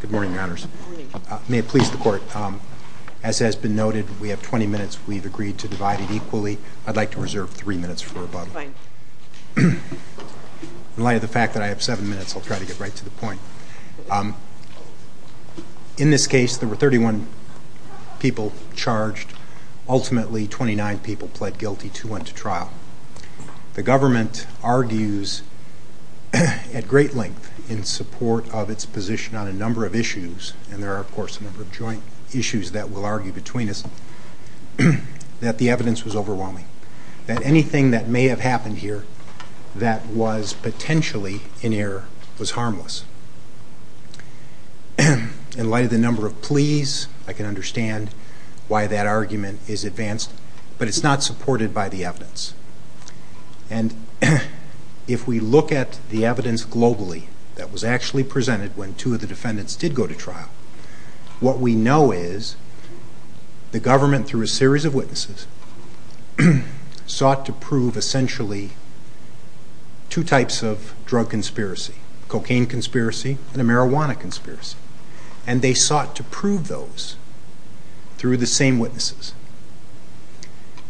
Good morning your honors. May it please the court, as has been noted we have 20 minutes we've agreed to divide it equally. I'd like to reserve three minutes for rebuttal. In light of the fact that I have seven minutes I'll try to get right to the point. In this case there were 31 people charged, ultimately 29 people pled guilty to went to trial. The government argues at great length in support of its position on a number of issues and there are of course a number of joint issues that will argue between us. The evidence was overwhelming. Anything that may have happened here that was potentially in error was harmless. In light of the number of pleas I can understand why that argument is advanced but it's not supported by the evidence. If we look at the evidence globally that was actually presented when two of the defendants did go to trial, what we know is the government through a series of witnesses sought to prove essentially two types of drug conspiracy, a cocaine conspiracy and a marijuana conspiracy, and they sought to prove those through the same witnesses.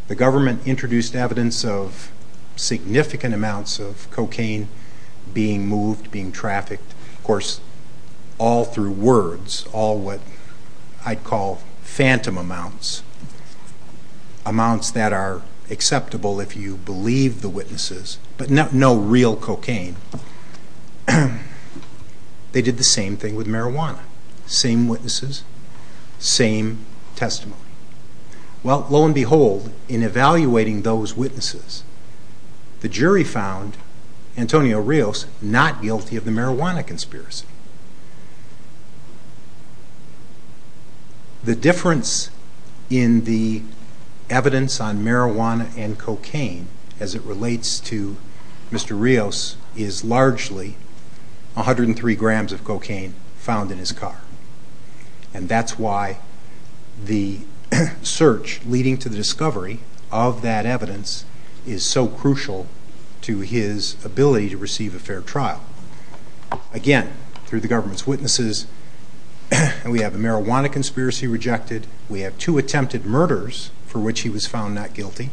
The government introduced evidence of significant amounts of cocaine being moved, being trafficked, of course all through words, all what I'd call phantom amounts, amounts that are acceptable if you believe the witnesses but no real cocaine. They did the same thing with marijuana, same witnesses, same testimony. Well lo and behold in evaluating those witnesses the jury found Antonio Rios not guilty of the marijuana conspiracy. The difference in the evidence on marijuana and cocaine as it relates to Mr. Rios is largely 103 grams of cocaine found in his car and that's why the search leading to the discovery of that evidence is so crucial to his ability to receive a fair trial. Again, through the government's witnesses, we have a marijuana conspiracy rejected, we have two attempted murders for which he was found not guilty,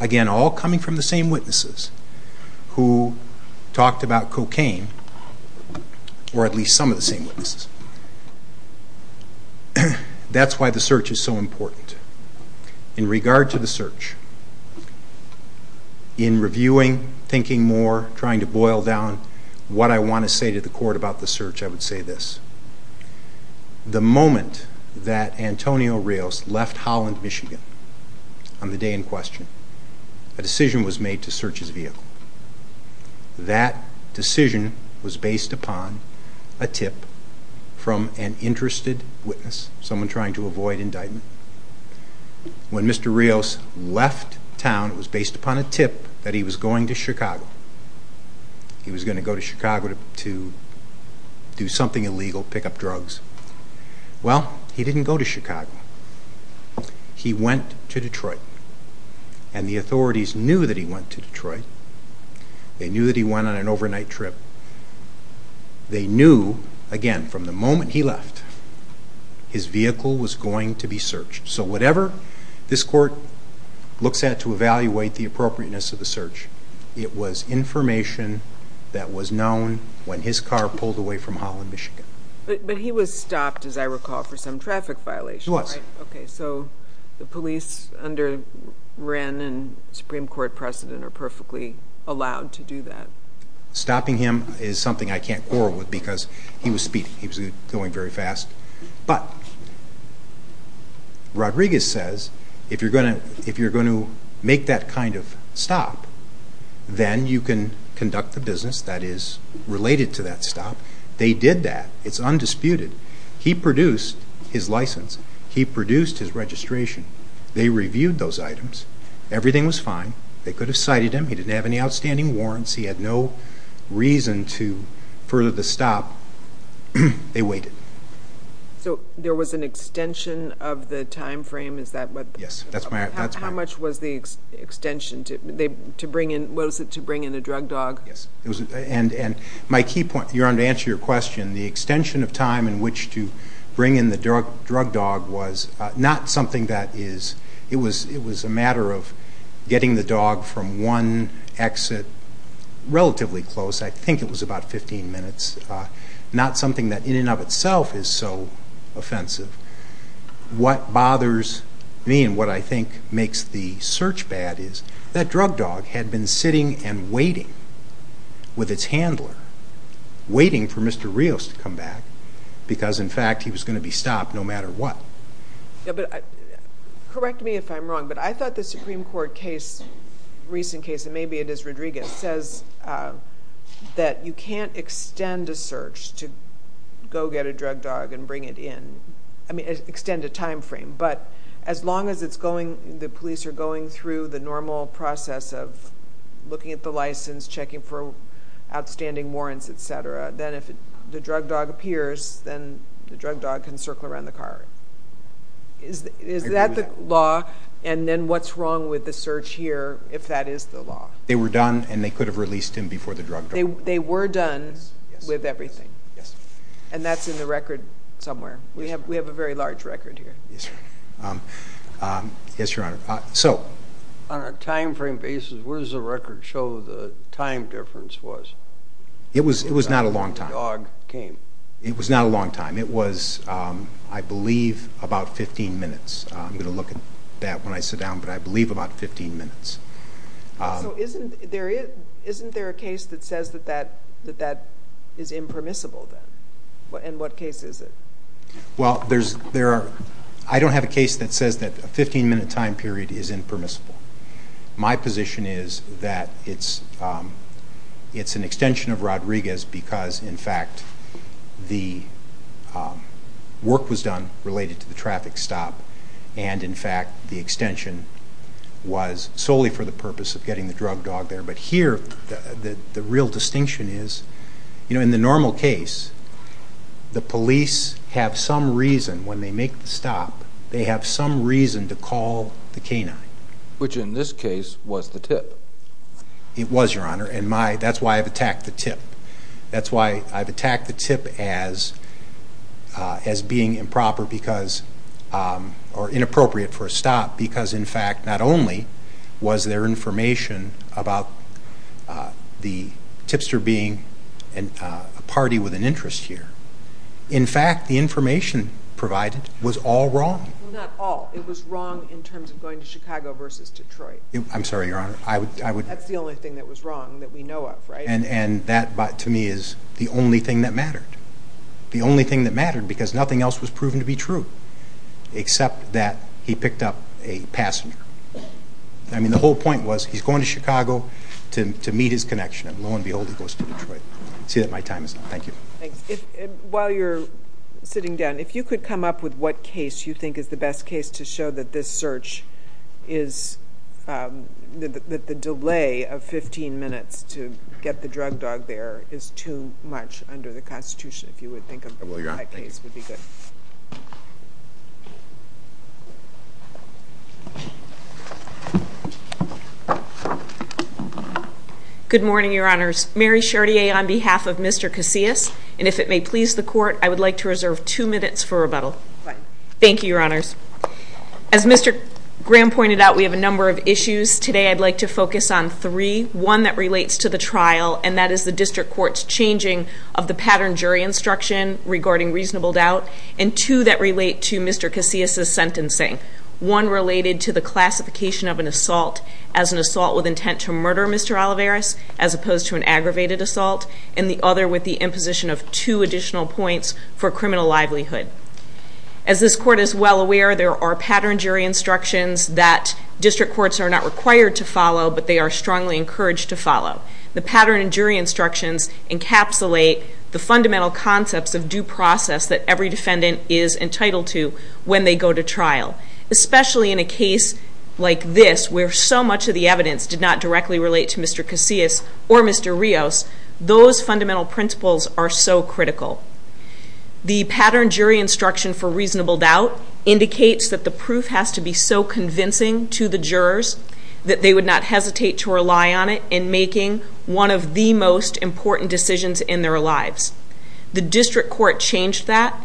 again all coming from the same witnesses who talked about cocaine or at least some of the same witnesses. That's why the search is so important. In regard to the search, in reviewing, thinking more, trying to boil down what I want to say to the court about the search, I would say this, the moment that Antonio Rios left Holland, Michigan on the day in question, a decision was made to search his vehicle. That decision was based upon a tip from an interested witness, someone trying to avoid indictment. When Mr. Rios left town, it was based upon a tip that he was going to Chicago. He was going to go to Chicago to do something illegal, pick up drugs. Well, he didn't go to Chicago. He went to Detroit and the authorities knew that he went to Detroit. They knew that he went on an overnight trip. They knew, again, from the moment he left, his vehicle was going to be searched. So whatever this court looks at to evaluate the appropriateness of the search, it was information that was known when his car pulled away from Holland, Michigan. But he was stopped, as I recall, for some traffic violation, right? He was. Okay. So the police under Wren and Supreme Court precedent are perfectly allowed to do that. Stopping him is something I can't quarrel with because he was speedy. He was going very fast. But Rodriguez says, if you're going to make that kind of stop, then you can conduct the business that is related to that stop. They did that. It's undisputed. He produced his license. He produced his registration. They reviewed those items. Everything was fine. They could have cited him. He didn't have any outstanding warrants. He had no reason to further the stop. They waited. So there was an extension of the time frame? Yes. That's right. How much was the extension? Was it to bring in a drug dog? Yes. And my key point, to answer your question, the extension of time in which to bring in the drug dog was not something that is – it was a matter of getting the dog from one exit relatively close. I think it was about 15 minutes. Not something that in and of itself is so offensive. What bothers me and what I think makes the search bad is that drug dog had been sitting and waiting with its handler, waiting for Mr. Rios to come back because, in fact, he was going to be stopped no matter what. Correct me if I'm wrong, but I thought the Supreme Court case, recent case, and maybe it is Rodriguez, says that you can't extend a search to go get a drug dog and bring it in, extend a time frame, but as long as the police are going through the normal process of looking at the license, checking for outstanding warrants, et cetera, then if the drug dog appears, then the drug dog can circle around the car. Is that the law? And then what's wrong with the search here if that is the law? They were done and they could have released him before the drug dog. They were done with everything? Yes. And that's in the record somewhere? We have a very large record here. Yes, Your Honor. So – On a time frame basis, where does the record show the time difference was? It was not a long time. When the dog came. It was not a long time. It was, I believe, about 15 minutes. I'm going to look at that when I sit down, but I believe about 15 minutes. So isn't there a case that says that that is impermissible then? And what case is it? Well, there's – I don't have a case that says that a 15-minute time period is impermissible. My position is that it's an extension of Rodriguez because, in fact, the work was done related to the traffic stop and, in fact, the extension was solely for the purpose of getting the drug dog there. But here, the real distinction is, you know, in the normal case, the police have some reason when they make the stop, they have some reason to call the canine. Which, in this case, was the tip. It was, Your Honor, and that's why I've attacked the tip. That's why I've attacked the tip as being improper because – or inappropriate for a stop because, in fact, not only was there information about the tipster being a party with an interest here, in fact, the information provided was all wrong. Well, not all. It was wrong in terms of going to Chicago versus Detroit. I'm sorry, Your Honor. I would – That's the only thing that was wrong that we know of, right? And that, to me, is the only thing that mattered. The only thing that mattered because nothing else was proven to be true except that he picked up a passenger. I mean, the whole point was he's going to Chicago to meet his connection and, lo and behold, he goes to Detroit. I see that my time is up. Thank you. Thanks. While you're sitting down, if you could come up with what case you think is the best case to show that this search is – that the delay of 15 minutes to get the drug dog there is too much under the Constitution, if you would think of that case would be good. Good morning, Your Honors. Mary Chartier on behalf of Mr. Casillas, and if it may please the Court, I would like to reserve two minutes for rebuttal. Right. Thank you, Your Honors. As Mr. Graham pointed out, we have a number of issues. Today, I'd like to focus on three. One that relates to the trial, and that is the District Court's changing of the pattern jury instruction regarding reasonable doubt, and two that relates to Mr. Casillas' sentencing. One related to the classification of an assault as an assault with intent to murder Mr. Olivares, as opposed to an aggravated assault, and the other with the imposition of two additional points for criminal livelihood. As this Court is well aware, there are pattern jury instructions that District Courts are not required to follow, but they are strongly encouraged to follow. The pattern jury instructions encapsulate the fundamental concepts of due process that every defendant is entitled to when they go to trial, especially in a case like this where so much of the evidence did not directly relate to Mr. Casillas or Mr. Rios. Those fundamental principles are so critical. The pattern jury instruction for reasonable doubt indicates that the proof has to be so convincing to the jurors that they would not hesitate to rely on it in making one of the most important decisions in their lives. The District Court changed that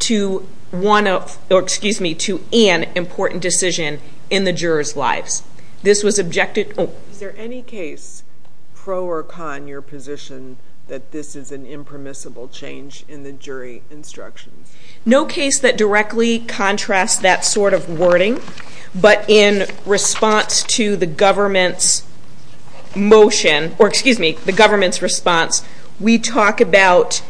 to one of, or excuse me, to an important decision in the jurors' lives. This was objected, oh. Is there any case pro or con your position that this is an impermissible change in the jury instructions? No case that directly contrasts that sort of wording, but in response to the government's motion, or excuse me, the government's response, we talk about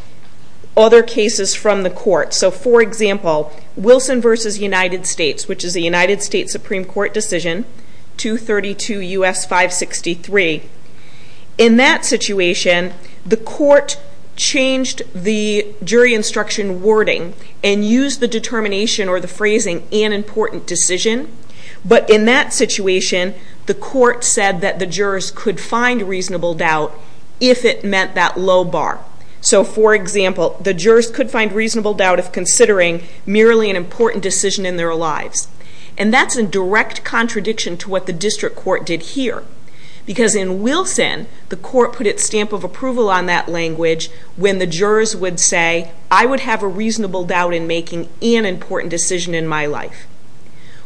other cases from the court. So for example, Wilson v. United States, which is a United States Supreme Court decision, 232 U.S. 563. In that situation, the court changed the jury instruction wording and used the determination or the phrasing, an important decision, but in that situation, the court said that the jurors could find reasonable doubt if it meant that low bar. So for example, the jurors could find reasonable doubt if considering merely an important decision in their lives. And that's a direct contradiction to what the District Court did here. Because in Wilson, the court put its stamp of approval on that language when the jurors would say, I would have a reasonable doubt in making an important decision in my life.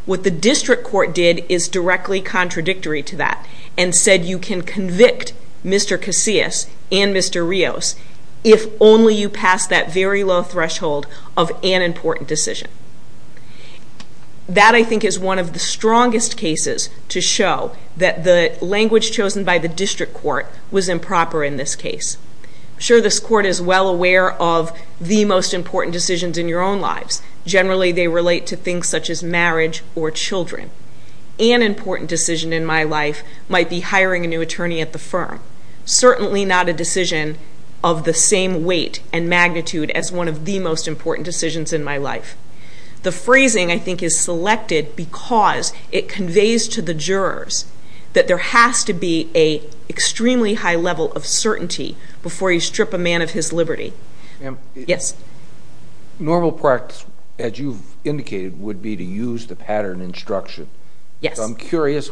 What the District Court did is directly contradictory to that and said you can convict Mr. Casillas and Mr. Rios if only you pass that very low threshold of an important decision. That, I think, is one of the strongest cases to show that the language chosen by the District Court was improper in this case. I'm sure this court is well aware of the most important decisions in your own lives. Generally, they relate to things such as marriage or children. An important decision in my life might be hiring a new attorney at the firm. Certainly not a decision of the same weight and magnitude as one of the most important decisions in my life. The phrasing, I think, is selected because it conveys to the jurors that there has to be an extremely high level of certainty before you strip a man of his liberty. Ma'am? Yes. Normal practice, as you've indicated, would be to use the pattern instruction. Yes. I'm curious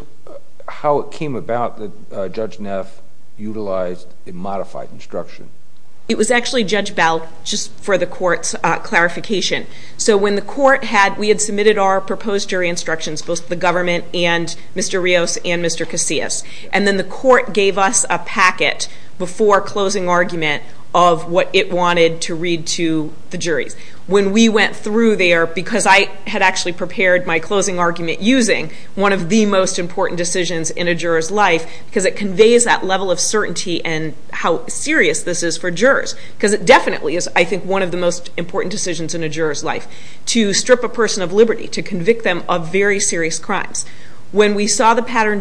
how it came about that Judge Neff utilized a modified instruction. It was actually Judge Bell, just for the court's clarification. So when the court had, we had submitted our proposed jury instructions, both to the government and Mr. Rios and Mr. Casillas, and then the court gave us a packet before closing argument of what it wanted to read to the juries. When we went through there, because I had actually prepared my closing argument using one of the most important decisions in a juror's life, because it conveys that level of certainty and how serious this is for jurors, because it definitely is, I think, one of the most important decisions in a juror's life, to strip a person of liberty, to convict them of very serious crimes. We objected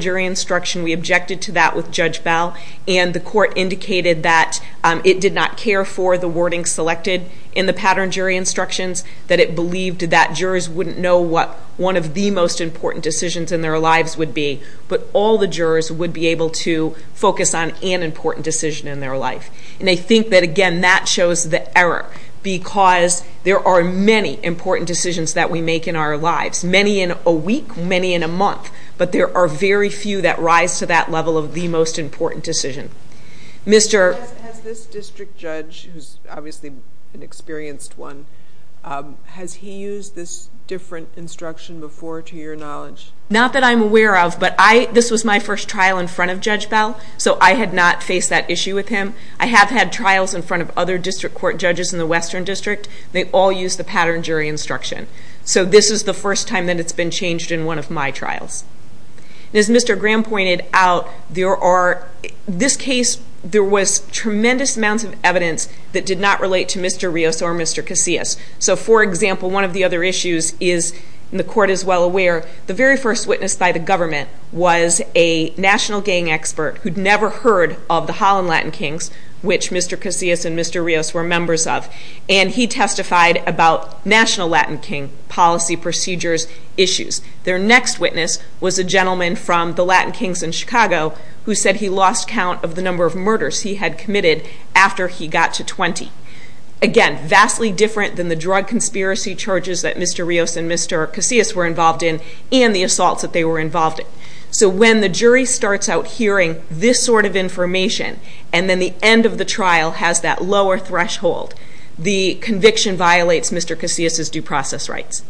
to that with Judge Bell, and the court indicated that it did not care for the wording selected in the pattern jury instructions, that it believed that jurors wouldn't know what one of the most important decisions in their lives would be, but all the jurors would be able to focus on an important decision in their life. And I think that, again, that shows the error, because there are many important decisions that we make in our lives, many in a week, many in a month, but there are very few that rise to that level of the most important decision. Has this district judge, who's obviously an experienced one, has he used this different instruction before, to your knowledge? Not that I'm aware of, but this was my first trial in front of Judge Bell, so I had not faced that issue with him. I have had trials in front of other district court judges in the Western District. They all use the pattern jury instruction. So this is the first time that it's been changed in one of my trials. As Mr. Graham pointed out, this case, there was tremendous amounts of evidence that did not relate to Mr. Rios or Mr. Casillas. So for example, one of the other issues is, and the court is well aware, the very first witness by the government was a national gang expert who'd never heard of the Holland Latin Kings, which Mr. Casillas and Mr. Rios were members of, and he testified about national Latin King policy procedures issues. Their next witness was a gentleman from the Latin Kings in Chicago who said he lost count of the number of murders he had committed after he got to 20. Again, vastly different than the drug conspiracy charges that Mr. Rios and Mr. Casillas were involved in, and the assaults that they were involved in. So when the jury starts out hearing this sort of information, and then the end of the trial has that lower threshold, the conviction violates Mr. Casillas' due process rights.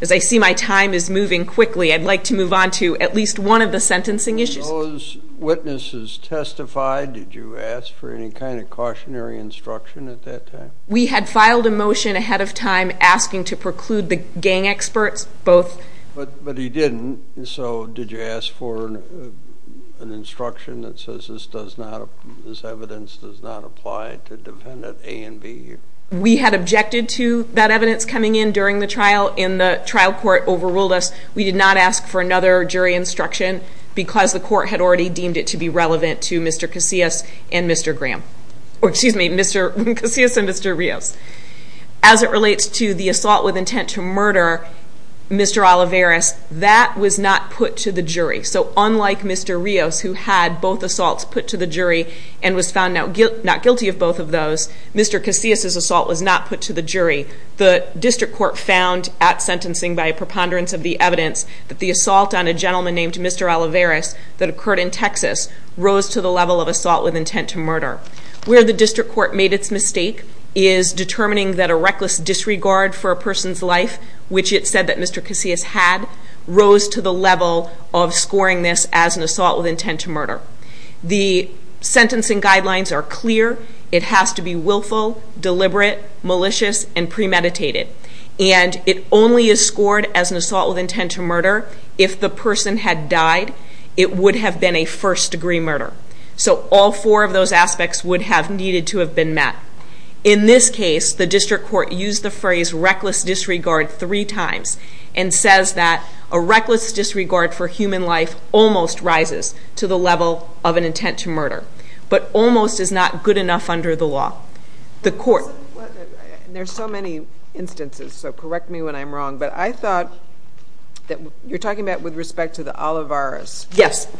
As I see my time is moving quickly, I'd like to move on to at least one of the sentencing issues. Those witnesses testified, did you ask for any kind of cautionary instruction at that time? We had filed a motion ahead of time asking to preclude the gang experts, both. But he didn't, so did you ask for an instruction that says this does not, this evidence does not apply to defendant A and B? We had objected to that evidence coming in during the trial, and the trial court overruled us. We did not ask for another jury instruction because the court had already deemed it to be relevant to Mr. Casillas and Mr. Graham, or excuse me, Mr. Casillas and Mr. Rios. As it relates to the assault with intent to murder Mr. Olivares, that was not put to the jury. So unlike Mr. Rios, who had both assaults put to the jury and was found not guilty of both of those, Mr. Casillas' assault was not put to the jury. The district court found at sentencing by a preponderance of the evidence that the assault on a gentleman named Mr. Olivares that occurred in Texas rose to the level of assault with intent to murder. Where the district court made its mistake is determining that a reckless disregard for a person's life, which it said that Mr. Casillas had, rose to the level of scoring this as an assault with intent to murder. The sentencing guidelines are clear. It has to be willful, deliberate, malicious, and premeditated. And it only is scored as an assault with intent to murder if the person had died. It would have been a first-degree murder. So all four of those aspects would have needed to have been met. In this case, the district court used the phrase reckless disregard three times and says that a reckless disregard for human life almost rises to the level of an intent to murder, but almost is not good enough under the law. There's so many instances, so correct me when I'm wrong, but I thought that you're talking about with respect to the Olivares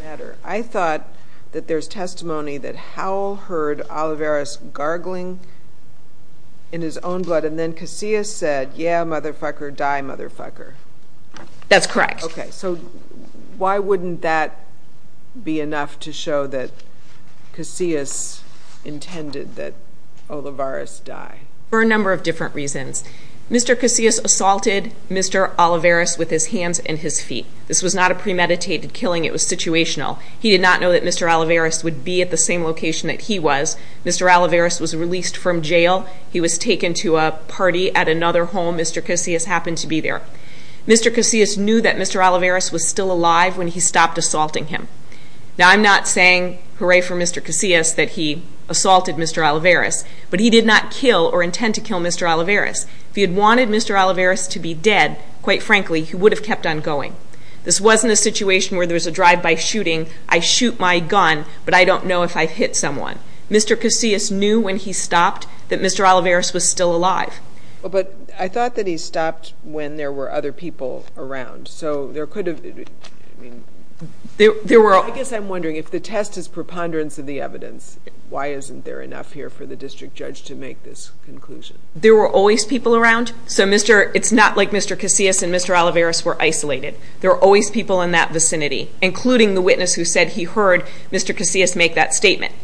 matter. I thought that there's testimony that Howell heard Olivares gargling in his own blood and then Casillas said, yeah, motherfucker, die, motherfucker. That's correct. Okay, so why wouldn't that be enough to show that Casillas intended that Olivares die? For a number of different reasons. Mr. Casillas assaulted Mr. Olivares with his hands and his feet. This was not a premeditated killing. It was situational. He did not know that Mr. Olivares would be at the same location that he was. Mr. Olivares was released from jail. He was taken to a party at another home. Mr. Casillas happened to be there. Mr. Casillas knew that Mr. Olivares was still alive when he stopped assaulting him. Now, I'm not saying hooray for Mr. Casillas that he assaulted Mr. Olivares, but he did not kill or intend to kill Mr. Olivares. If he had wanted Mr. Olivares to be dead, quite frankly, he would have kept on going. This wasn't a situation where there was a drive-by shooting. I shoot my gun, but I don't know if I hit someone. Mr. Casillas knew when he stopped that Mr. Olivares was still alive. But I thought that he stopped when there were other people around, so there could have... I guess I'm wondering, if the test is preponderance of the evidence, why isn't there enough here for the district judge to make this conclusion? There were always people around, so it's not like Mr. Casillas and Mr. Olivares were isolated. There were always people in that vicinity, including the witness who said he heard Mr. Casillas make that statement.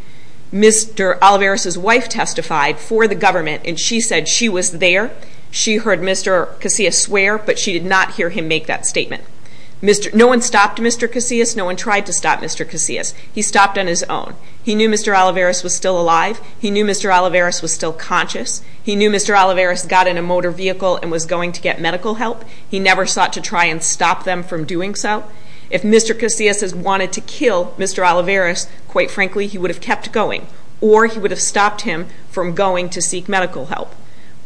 Mr. Olivares' wife testified for the government, and she said she was there. She heard Mr. Casillas swear, but she did not hear him make that statement. No one stopped Mr. Casillas. No one tried to stop Mr. Casillas. He stopped on his own. He knew Mr. Olivares was still conscious. He knew Mr. Olivares got in a motor vehicle and was going to get medical help. He never sought to try and stop them from doing so. If Mr. Casillas has wanted to kill Mr. Olivares, quite frankly, he would have kept going, or he would have stopped him from going to seek medical help.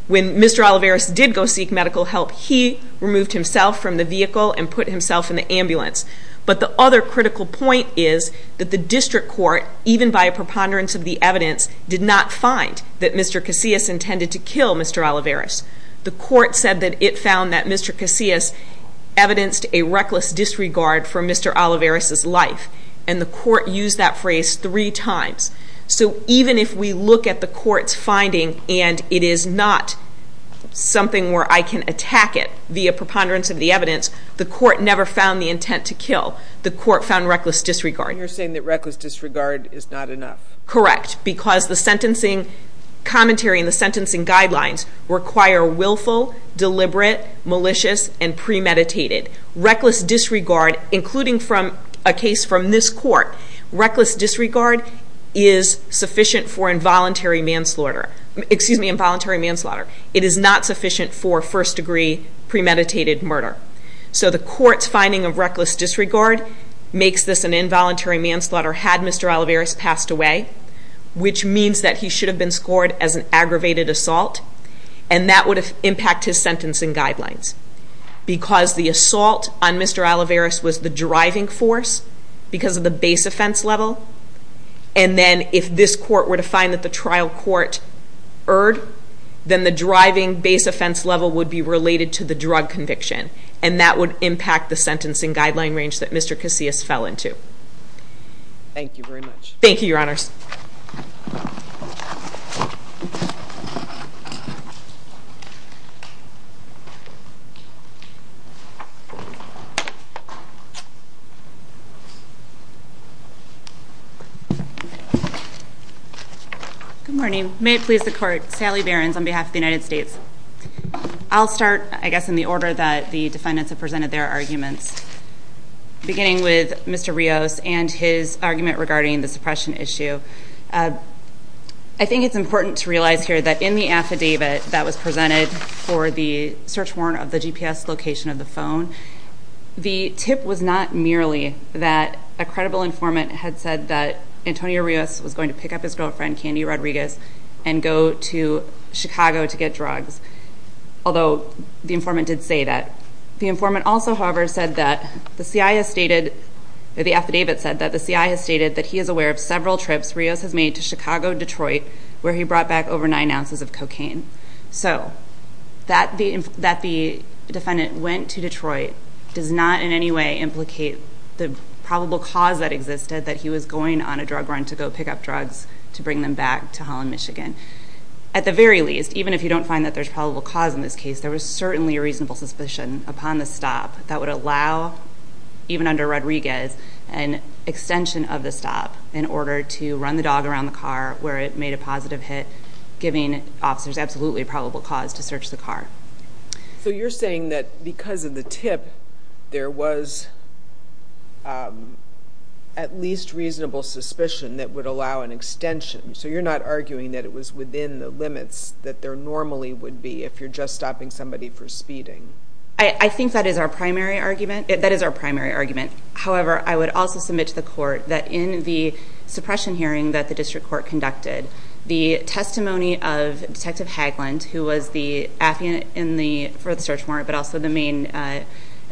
When Mr. Olivares did go seek medical help, he removed himself from the vehicle and put himself in the ambulance. But the other critical point is that the district court, even by a preponderance of the evidence, did not find that Mr. Casillas intended to kill Mr. Olivares. The court said that it found that Mr. Casillas evidenced a reckless disregard for Mr. Olivares' life, and the court used that phrase three times. So even if we look at the court's finding and it is not something where I can attack it via preponderance of the evidence, the court never found the intent to kill. The court found reckless disregard. You're saying that reckless disregard is not enough? Correct. Because the sentencing commentary and the sentencing guidelines require willful, deliberate, malicious, and premeditated. Reckless disregard, including a case from this court, reckless disregard is sufficient for involuntary manslaughter. It is not sufficient for first degree premeditated murder. So the court's finding of reckless disregard makes this an involuntary manslaughter had Mr. Olivares passed away, which means that he should have been scored as an aggravated assault, and that would impact his sentencing guidelines. Because the assault on Mr. Olivares was the driving force, because of the base offense level, and then if this court were to find that the trial court erred, then the driving base offense level would be related to the drug conviction, and that would impact the sentencing guideline range that Mr. Casillas fell into. Thank you very much. Thank you, Your Honors. Good morning. May it please the court, Sally Behrens on behalf of the United States. I'll start, I guess, in the order that the defendants have presented their arguments, beginning with Mr. Rios and his argument regarding the suppression issue. I think it's important to realize here that in the affidavit that was presented for the search warrant of the GPS location of the phone, the tip was not merely that a credible informant had said that Antonio Rios was going to pick up his girlfriend, Candy Rodriguez, and go to Chicago to get drugs, although the informant did say that. The informant also, however, said that the CI has stated, the affidavit said that the CI has stated that he is aware of several trips Rios has made to Chicago, Detroit, where he brought back over nine ounces of cocaine. So that the defendant went to Detroit does not in any way implicate the probable cause that existed that he was going on a drug run to go pick up drugs to bring them back to Holland, Michigan. At the very least, even if you don't find that there's probable cause in this case, there was certainly a reasonable suspicion upon the stop that would allow, even under Rodriguez, an extension of the stop in order to run the dog around the car, where it made a positive hit, giving officers absolutely probable cause to search the car. So you're saying that because of the tip, there was at least reasonable suspicion that would allow an extension. So you're not arguing that it was for speeding? I think that is our primary argument. However, I would also submit to the court that in the suppression hearing that the district court conducted, the testimony of Detective Haglund, who was the affidavit for the search warrant, but also the main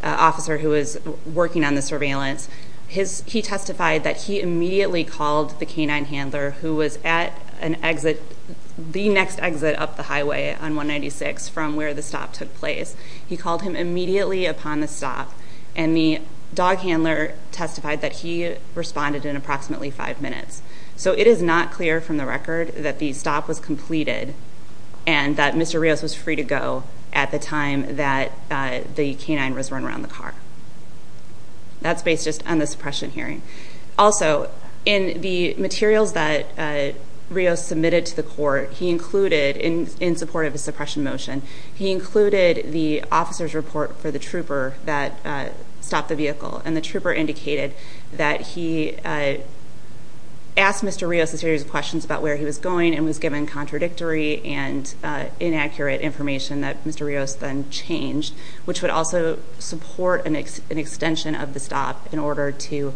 officer who was working on the surveillance, he testified that he immediately called the canine handler who was at exit, the next exit up the highway on 196 from where the stop took place. He called him immediately upon the stop, and the dog handler testified that he responded in approximately five minutes. So it is not clear from the record that the stop was completed and that Mr. Rios was free to go at the time that the canine was run around the car. That's based just on the suppression hearing. Also, in the materials that Rios submitted to the court, he included, in support of his suppression motion, he included the officer's report for the trooper that stopped the vehicle. And the trooper indicated that he asked Mr. Rios a series of questions about where he was going and was given contradictory and inaccurate information that Mr. Rios then changed, which would also support an extension of the stop in order to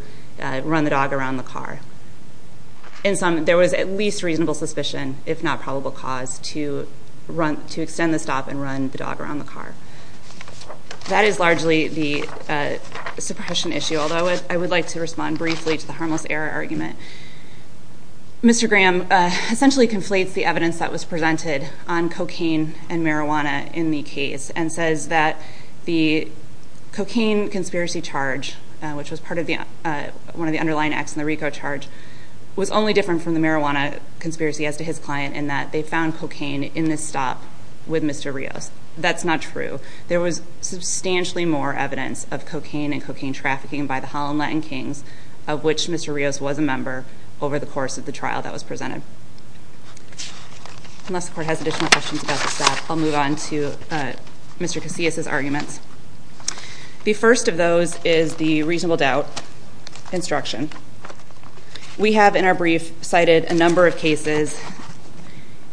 run the dog around the car. In sum, there was at least reasonable suspicion, if not probable cause, to extend the stop and run the dog around the car. That is largely the suppression issue, although I would like to respond briefly to the harmless error argument. Mr. Graham essentially conflates the evidence that was presented on cocaine and conspiracy charge, which was part of one of the underlying acts in the RICO charge, was only different from the marijuana conspiracy as to his client in that they found cocaine in the stop with Mr. Rios. That's not true. There was substantially more evidence of cocaine and cocaine trafficking by the Holland Latin Kings, of which Mr. Rios was a member over the course of the trial that was presented. Unless the court has additional questions about the stop, I'll move on to Mr. Casillas' arguments. The first of those is the reasonable doubt instruction. We have in our brief cited a number of cases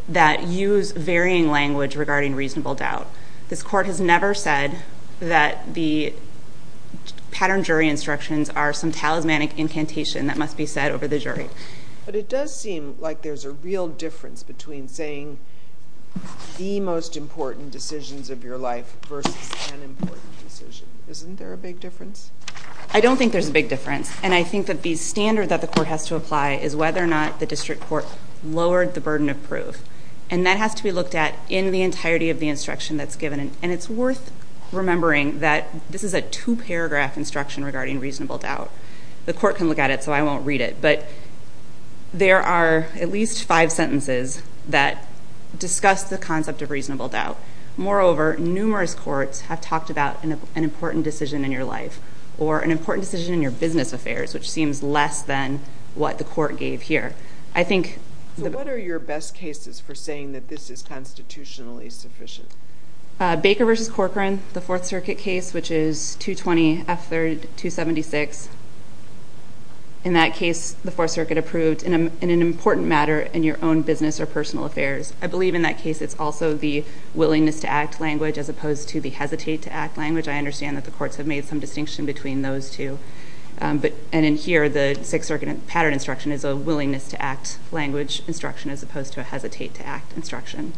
that use varying language regarding reasonable doubt. This court has never said that the pattern jury instructions are some talismanic incantation that must be said over the jury. But it does seem like there's a real difference between saying the most important decisions of your life versus an important decision. Isn't there a big difference? I don't think there's a big difference. And I think that the standard that the court has to apply is whether or not the district court lowered the burden of proof. And that has to be looked at in the entirety of the instruction that's given. And it's worth remembering that this is a two-paragraph instruction regarding reasonable doubt. The court can look at it, so I won't read it. But there are at least five sentences that discuss the concept of reasonable doubt. Moreover, numerous courts have talked about an important decision in your life or an important decision in your business affairs, which seems less than what the court gave here. I think... So what are your best cases for saying that this is constitutionally sufficient? Baker v. Corcoran, the Fourth Circuit case, which is 220 F. 3rd, 276. In that case, the Fourth Circuit approved in an important matter in your own business or personal affairs. I believe in that case it's also the willingness-to-act language as opposed to the hesitate-to-act language. I understand that the courts have made some distinction between those two. And in here, the Sixth Circuit pattern instruction is a willingness-to-act language instruction as opposed to a hesitate-to-act instruction.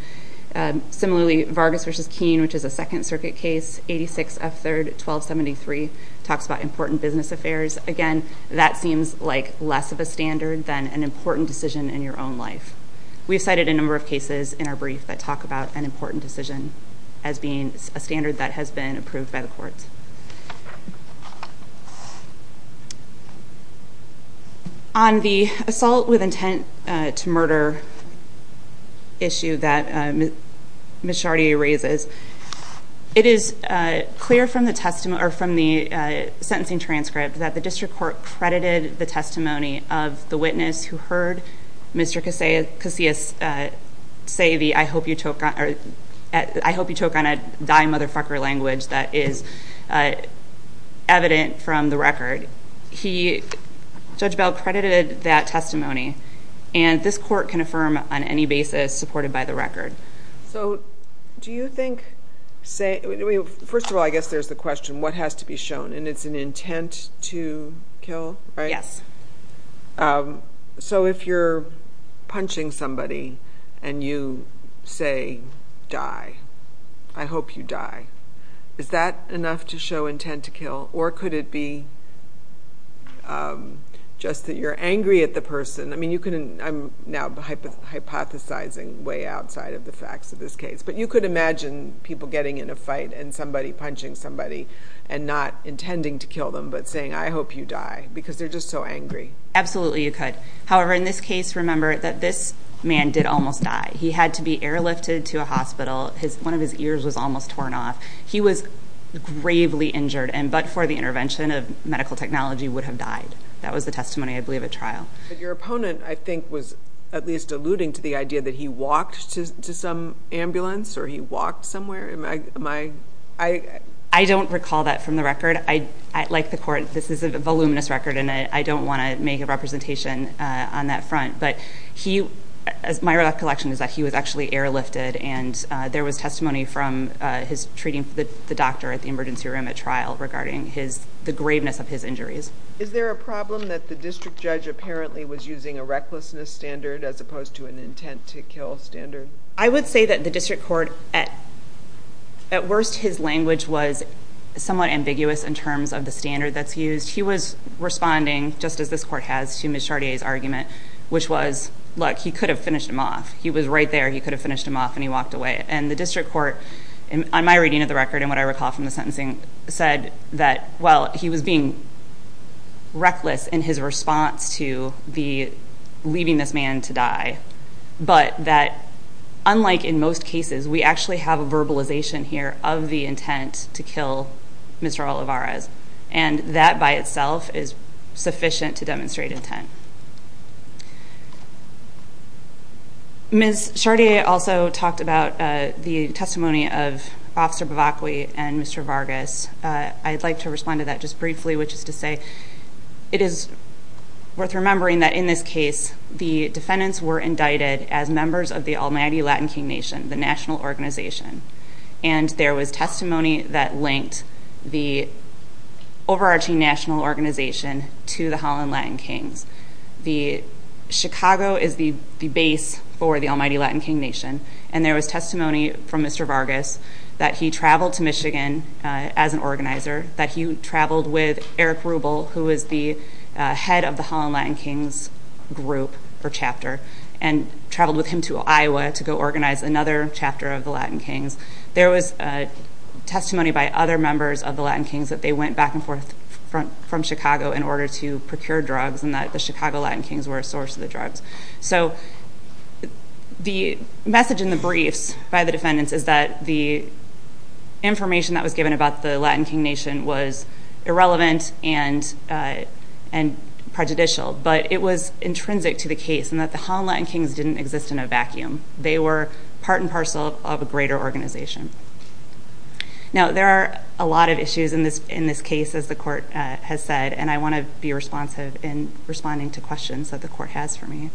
Similarly, Vargas v. Keene, which is a Second Circuit case, 86 F. 3rd, 1273, talks about important business affairs. Again, that seems like less of a standard than an important decision in your own life. We've cited a number of cases in our brief that talk about an important decision as being a standard that has been approved by the courts. On the assault with intent to murder issue that Ms. Chartier raises, it is clear from the sentencing transcript that the district court credited the testimony of the defendant, Mr. Casillas Seavey, I hope you choke on a die motherfucker language that is evident from the record. Judge Bell credited that testimony. And this court can affirm on any basis supported by the record. First of all, I guess there's the question, what has to be shown? And it's an intent to kill, right? Yes. So if you're punching somebody and you say, die, I hope you die, is that enough to show intent to kill? Or could it be just that you're angry at the person? I'm now hypothesizing way outside of the facts of this case. But you could imagine people getting in a fight and somebody punching somebody and not intending to kill them, but saying, I hope you die because they're just so angry. Absolutely, you could. However, in this case, remember that this man did almost die. He had to be airlifted to a hospital. One of his ears was almost torn off. He was gravely injured and but for the intervention of medical technology would have died. That was the testimony, I believe, at trial. But your opponent, I think, was at least alluding to the idea that he walked to some ambulance or he walked somewhere. I don't recall that from the record. Like the court, this is a voluminous record and I don't want to make a representation on that front. But my recollection is that he was actually airlifted and there was testimony from his treating the doctor at the emergency room at trial regarding the graveness of his injuries. Is there a problem that the district judge apparently was using a recklessness standard as opposed to an intent to kill standard? I would say that the district court, at worst, his language was somewhat ambiguous in terms of the standard that's used. He was responding, just as this court has, to Ms. Chartier's argument, which was, look, he could have finished him off. He was right there. He could have finished him off and he walked away. And the district court, on my reading of the record and what I recall from the sentencing, said that, well, he was being reckless in his response to the leaving this man to die. But that, unlike in most cases, we actually have a verbalization here of the intent to kill Mr. Olivares. And that by itself is sufficient to demonstrate intent. Ms. Chartier also talked about the testimony of Officer Bavacqui and Mr. Vargas. I'd like to remember that in this case, the defendants were indicted as members of the Almighty Latin King Nation, the national organization. And there was testimony that linked the overarching national organization to the Holland Latin Kings. Chicago is the base for the Almighty Latin King Nation. And there was testimony from Mr. Vargas that he traveled to Michigan as an organizer, that he traveled with Eric Rubel, who is the head of the Holland Latin Kings group or chapter, and traveled with him to Iowa to go organize another chapter of the Latin Kings. There was testimony by other members of the Latin Kings that they went back and forth from Chicago in order to procure drugs and that the Chicago Latin Kings were a source of the drugs. So the message in the briefs by the defendants is that the information that was given about the Latin King Nation was irrelevant and prejudicial, but it was intrinsic to the case and that the Holland Latin Kings didn't exist in a vacuum. They were part and parcel of a greater organization. Now, there are a lot of issues in this case, as the court has said, and I want to be responsive in responding to questions that the court has for me.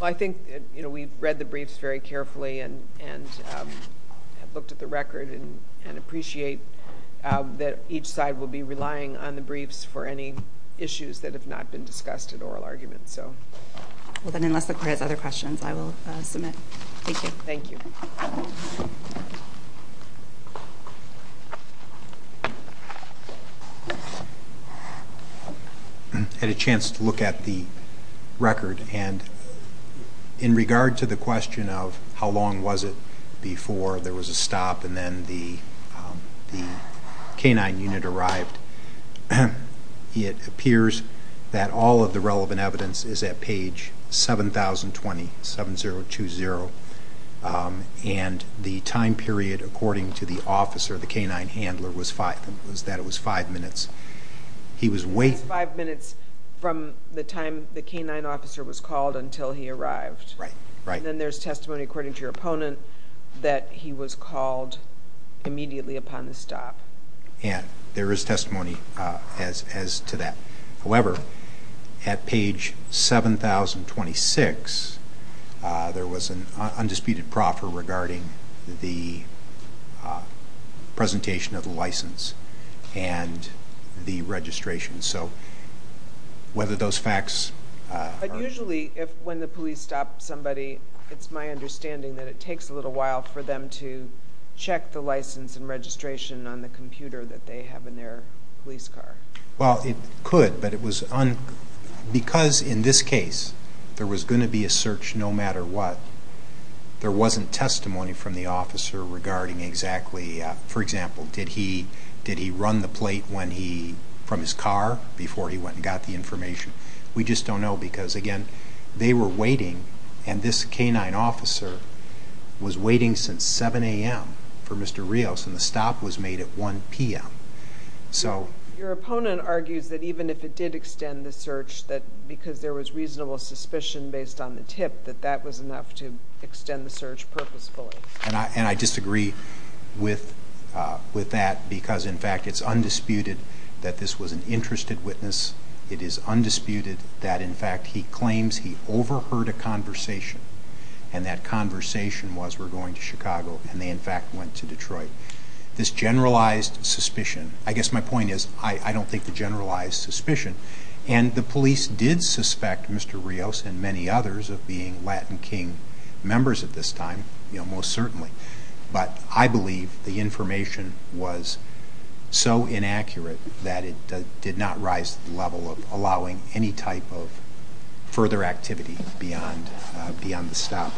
I think we've read the briefs very carefully and have looked at the record and appreciate that each side will be relying on the briefs for any issues that have not been discussed in oral arguments. Well, then, unless the court has other questions, I will submit. Thank you. Thank you. I had a chance to look at the record and in regard to the question of how long was it before there was a stop and then the K-9 unit arrived, it appears that all of the relevant evidence is at page 7020 and the time period according to the officer, the K-9 handler, was that it was five minutes. It was five minutes from the time the K-9 officer was called until he arrived. Then there's testimony according to your opponent that he was called immediately upon the stop. There is testimony as to that. However, at page 7026, there was an undisputed proffer regarding the presentation of the license and the registration. So, whether those facts... Usually, when the police stop somebody, it's my understanding that it takes a little while for to check the license and registration on the computer that they have in their police car. Well, it could, but it was... Because in this case, there was going to be a search no matter what, there wasn't testimony from the officer regarding exactly... For example, did he run the plate from his car before he went and got the information? We just don't know because, again, they were waiting and this K-9 officer was waiting since 7 a.m. for Mr. Rios and the stop was made at 1 p.m. So... Your opponent argues that even if it did extend the search, that because there was reasonable suspicion based on the tip, that that was enough to extend the search purposefully. And I disagree with that because, in fact, it's undisputed that this was an interested witness. It is undisputed that, in fact, he claims he overheard a conversation, and that conversation was, we're going to Chicago, and they, in fact, went to Detroit. This generalized suspicion... I guess my point is, I don't think the generalized suspicion... And the police did suspect Mr. Rios and many others of being Latin King members at this time, most certainly. But I believe the information was so inaccurate that it did not rise to the level of allowing any type of further activity beyond the stop.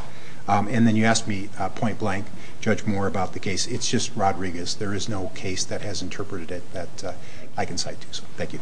And then you asked me, point blank, Judge Moore, about the case. It's just Rodriguez. There is no case that has interpreted it that I can cite to, so thank you.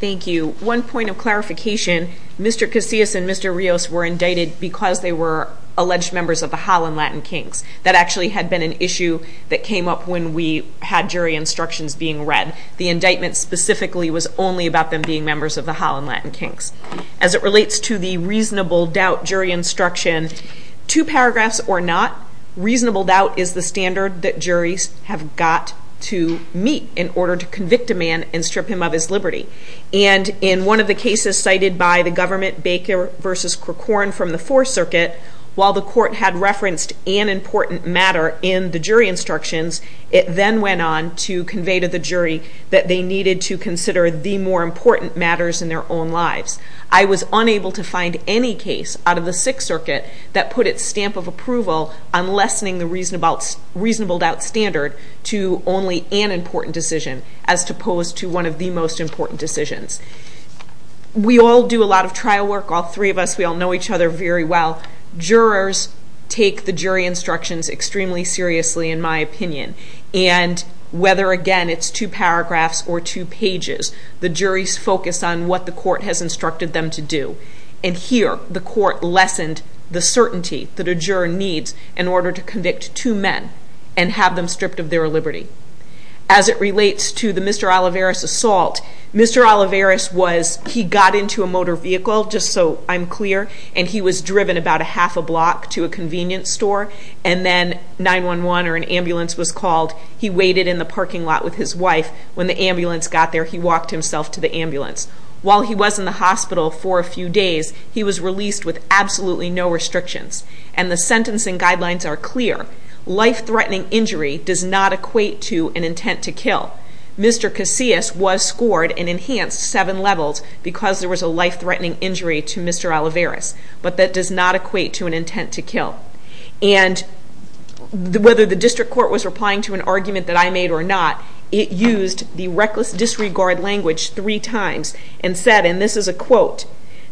Thank you. One point of clarification, Mr. Casillas and Mr. Rios were indicted because they were alleged members of the Holland Latin Kings. That actually had been an issue that came up when we had jury instructions being read. The indictment specifically was only about them being members of the Holland Latin Kings. As it relates to the reasonable doubt jury instruction, two paragraphs or not, reasonable doubt is the standard that juries have got to meet in order to convict a man and strip him of his liberty. And in one of the cases cited by the government, Baker v. Corcoran from the Fourth Circuit, while the court had referenced an important matter in the jury instructions, it then went on to convey to the jury that they needed to consider the more that put its stamp of approval on lessening the reasonable doubt standard to only an important decision as opposed to one of the most important decisions. We all do a lot of trial work. All three of us, we all know each other very well. Jurors take the jury instructions extremely seriously, in my opinion. And whether, again, it's two paragraphs or two pages, the juries focus on the court has instructed them to do. And here, the court lessened the certainty that a juror needs in order to convict two men and have them stripped of their liberty. As it relates to the Mr. Olivares assault, Mr. Olivares was, he got into a motor vehicle, just so I'm clear, and he was driven about a half a block to a convenience store. And then 911 or an ambulance was called. He waited in the parking lot with his wife. When the ambulance got there, he walked himself to the hospital. While he was in the hospital for a few days, he was released with absolutely no restrictions. And the sentencing guidelines are clear. Life-threatening injury does not equate to an intent to kill. Mr. Casillas was scored and enhanced seven levels because there was a life-threatening injury to Mr. Olivares, but that does not equate to an intent to kill. And whether the district court was replying to an argument that I made or not, it used the reckless disregard language three times and said, and this is a quote,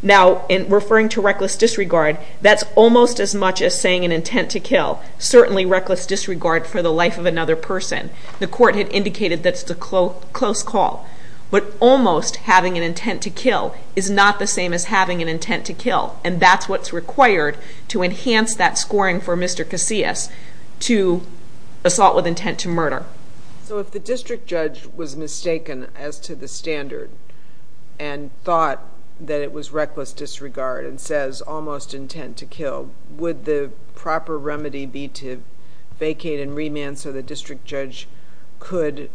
now in referring to reckless disregard, that's almost as much as saying an intent to kill. Certainly reckless disregard for the life of another person. The court had indicated that's the close call. But almost having an intent to kill is not the same as having an intent to kill. And that's what's required to enhance that scoring for Mr. Casillas to assault with intent to murder. So if the district judge was mistaken as to the standard and thought that it was reckless disregard and says almost intent to kill, would the proper remedy be to vacate and remand so the district judge could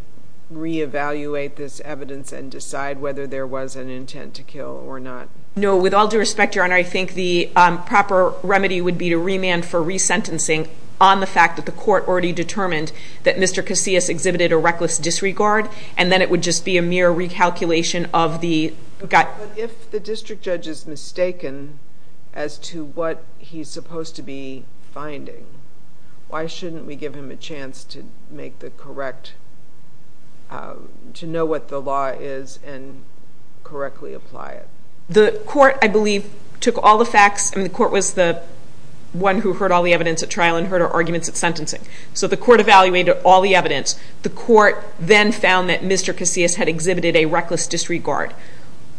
re-evaluate this evidence and decide whether there was an intent to kill or not? No. With all due respect, Your Honor, I think the proper remedy would be to remand for re-sentencing on the fact that the court already determined that Mr. Casillas exhibited a reckless disregard, and then it would just be a mere recalculation of the... But if the district judge is mistaken as to what he's supposed to be finding, why shouldn't we give him a chance to make the correct, to know what the law is and apply it? The court, I believe, took all the facts, and the court was the one who heard all the evidence at trial and heard our arguments at sentencing. So the court evaluated all the evidence. The court then found that Mr. Casillas had exhibited a reckless disregard.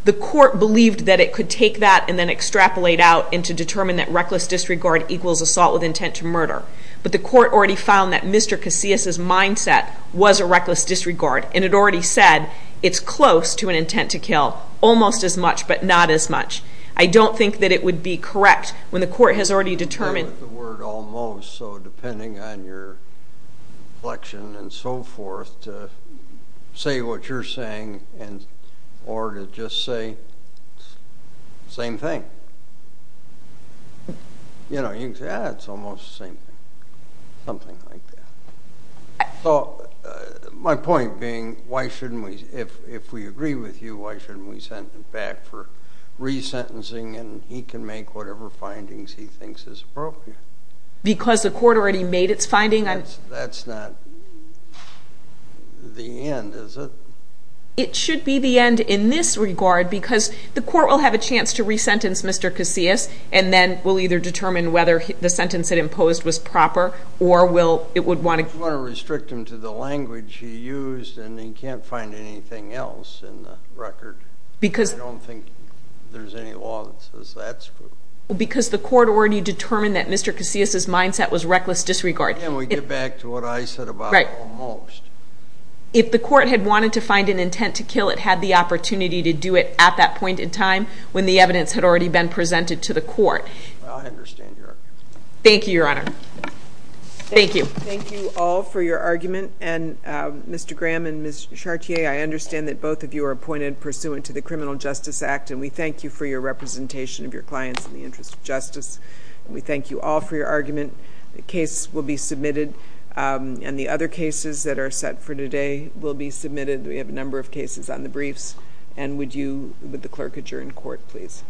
The court believed that it could take that and then extrapolate out and to determine that reckless disregard equals assault with intent to murder. But the court already found that Mr. Casillas' mindset was a reckless disregard, and it already said it's close to an intent to kill, almost as much, but not as much. I don't think that it would be correct when the court has already determined... With the word almost, so depending on your inflection and so forth, to say what you're saying or to just say, same thing. You know, you can say, it's almost the same thing, something like that. So my point being, if we agree with you, why shouldn't we send him back for resentencing, and he can make whatever findings he thinks is appropriate? Because the court already made its finding? That's not the end, is it? It should be the end in this regard, because the court will have a chance to resentence Mr. Casillas if the sentence it imposed was proper, or will... It would want to restrict him to the language he used, and he can't find anything else in the record. Because... I don't think there's any law that says that's... Because the court already determined that Mr. Casillas' mindset was reckless disregard. And we get back to what I said about almost. If the court had wanted to find an intent to kill, it had the opportunity to do it at that point in time, when the evidence had already been presented to the court. Well, I understand your argument. Thank you, Your Honor. Thank you. Thank you all for your argument. And Mr. Graham and Ms. Chartier, I understand that both of you are appointed pursuant to the Criminal Justice Act, and we thank you for your representation of your clients in the interest of justice. We thank you all for your argument. The case will be submitted, and the other cases that are set for today will be submitted. We have a number of cases on the briefs. And would you... Would the clerk adjourn court, please?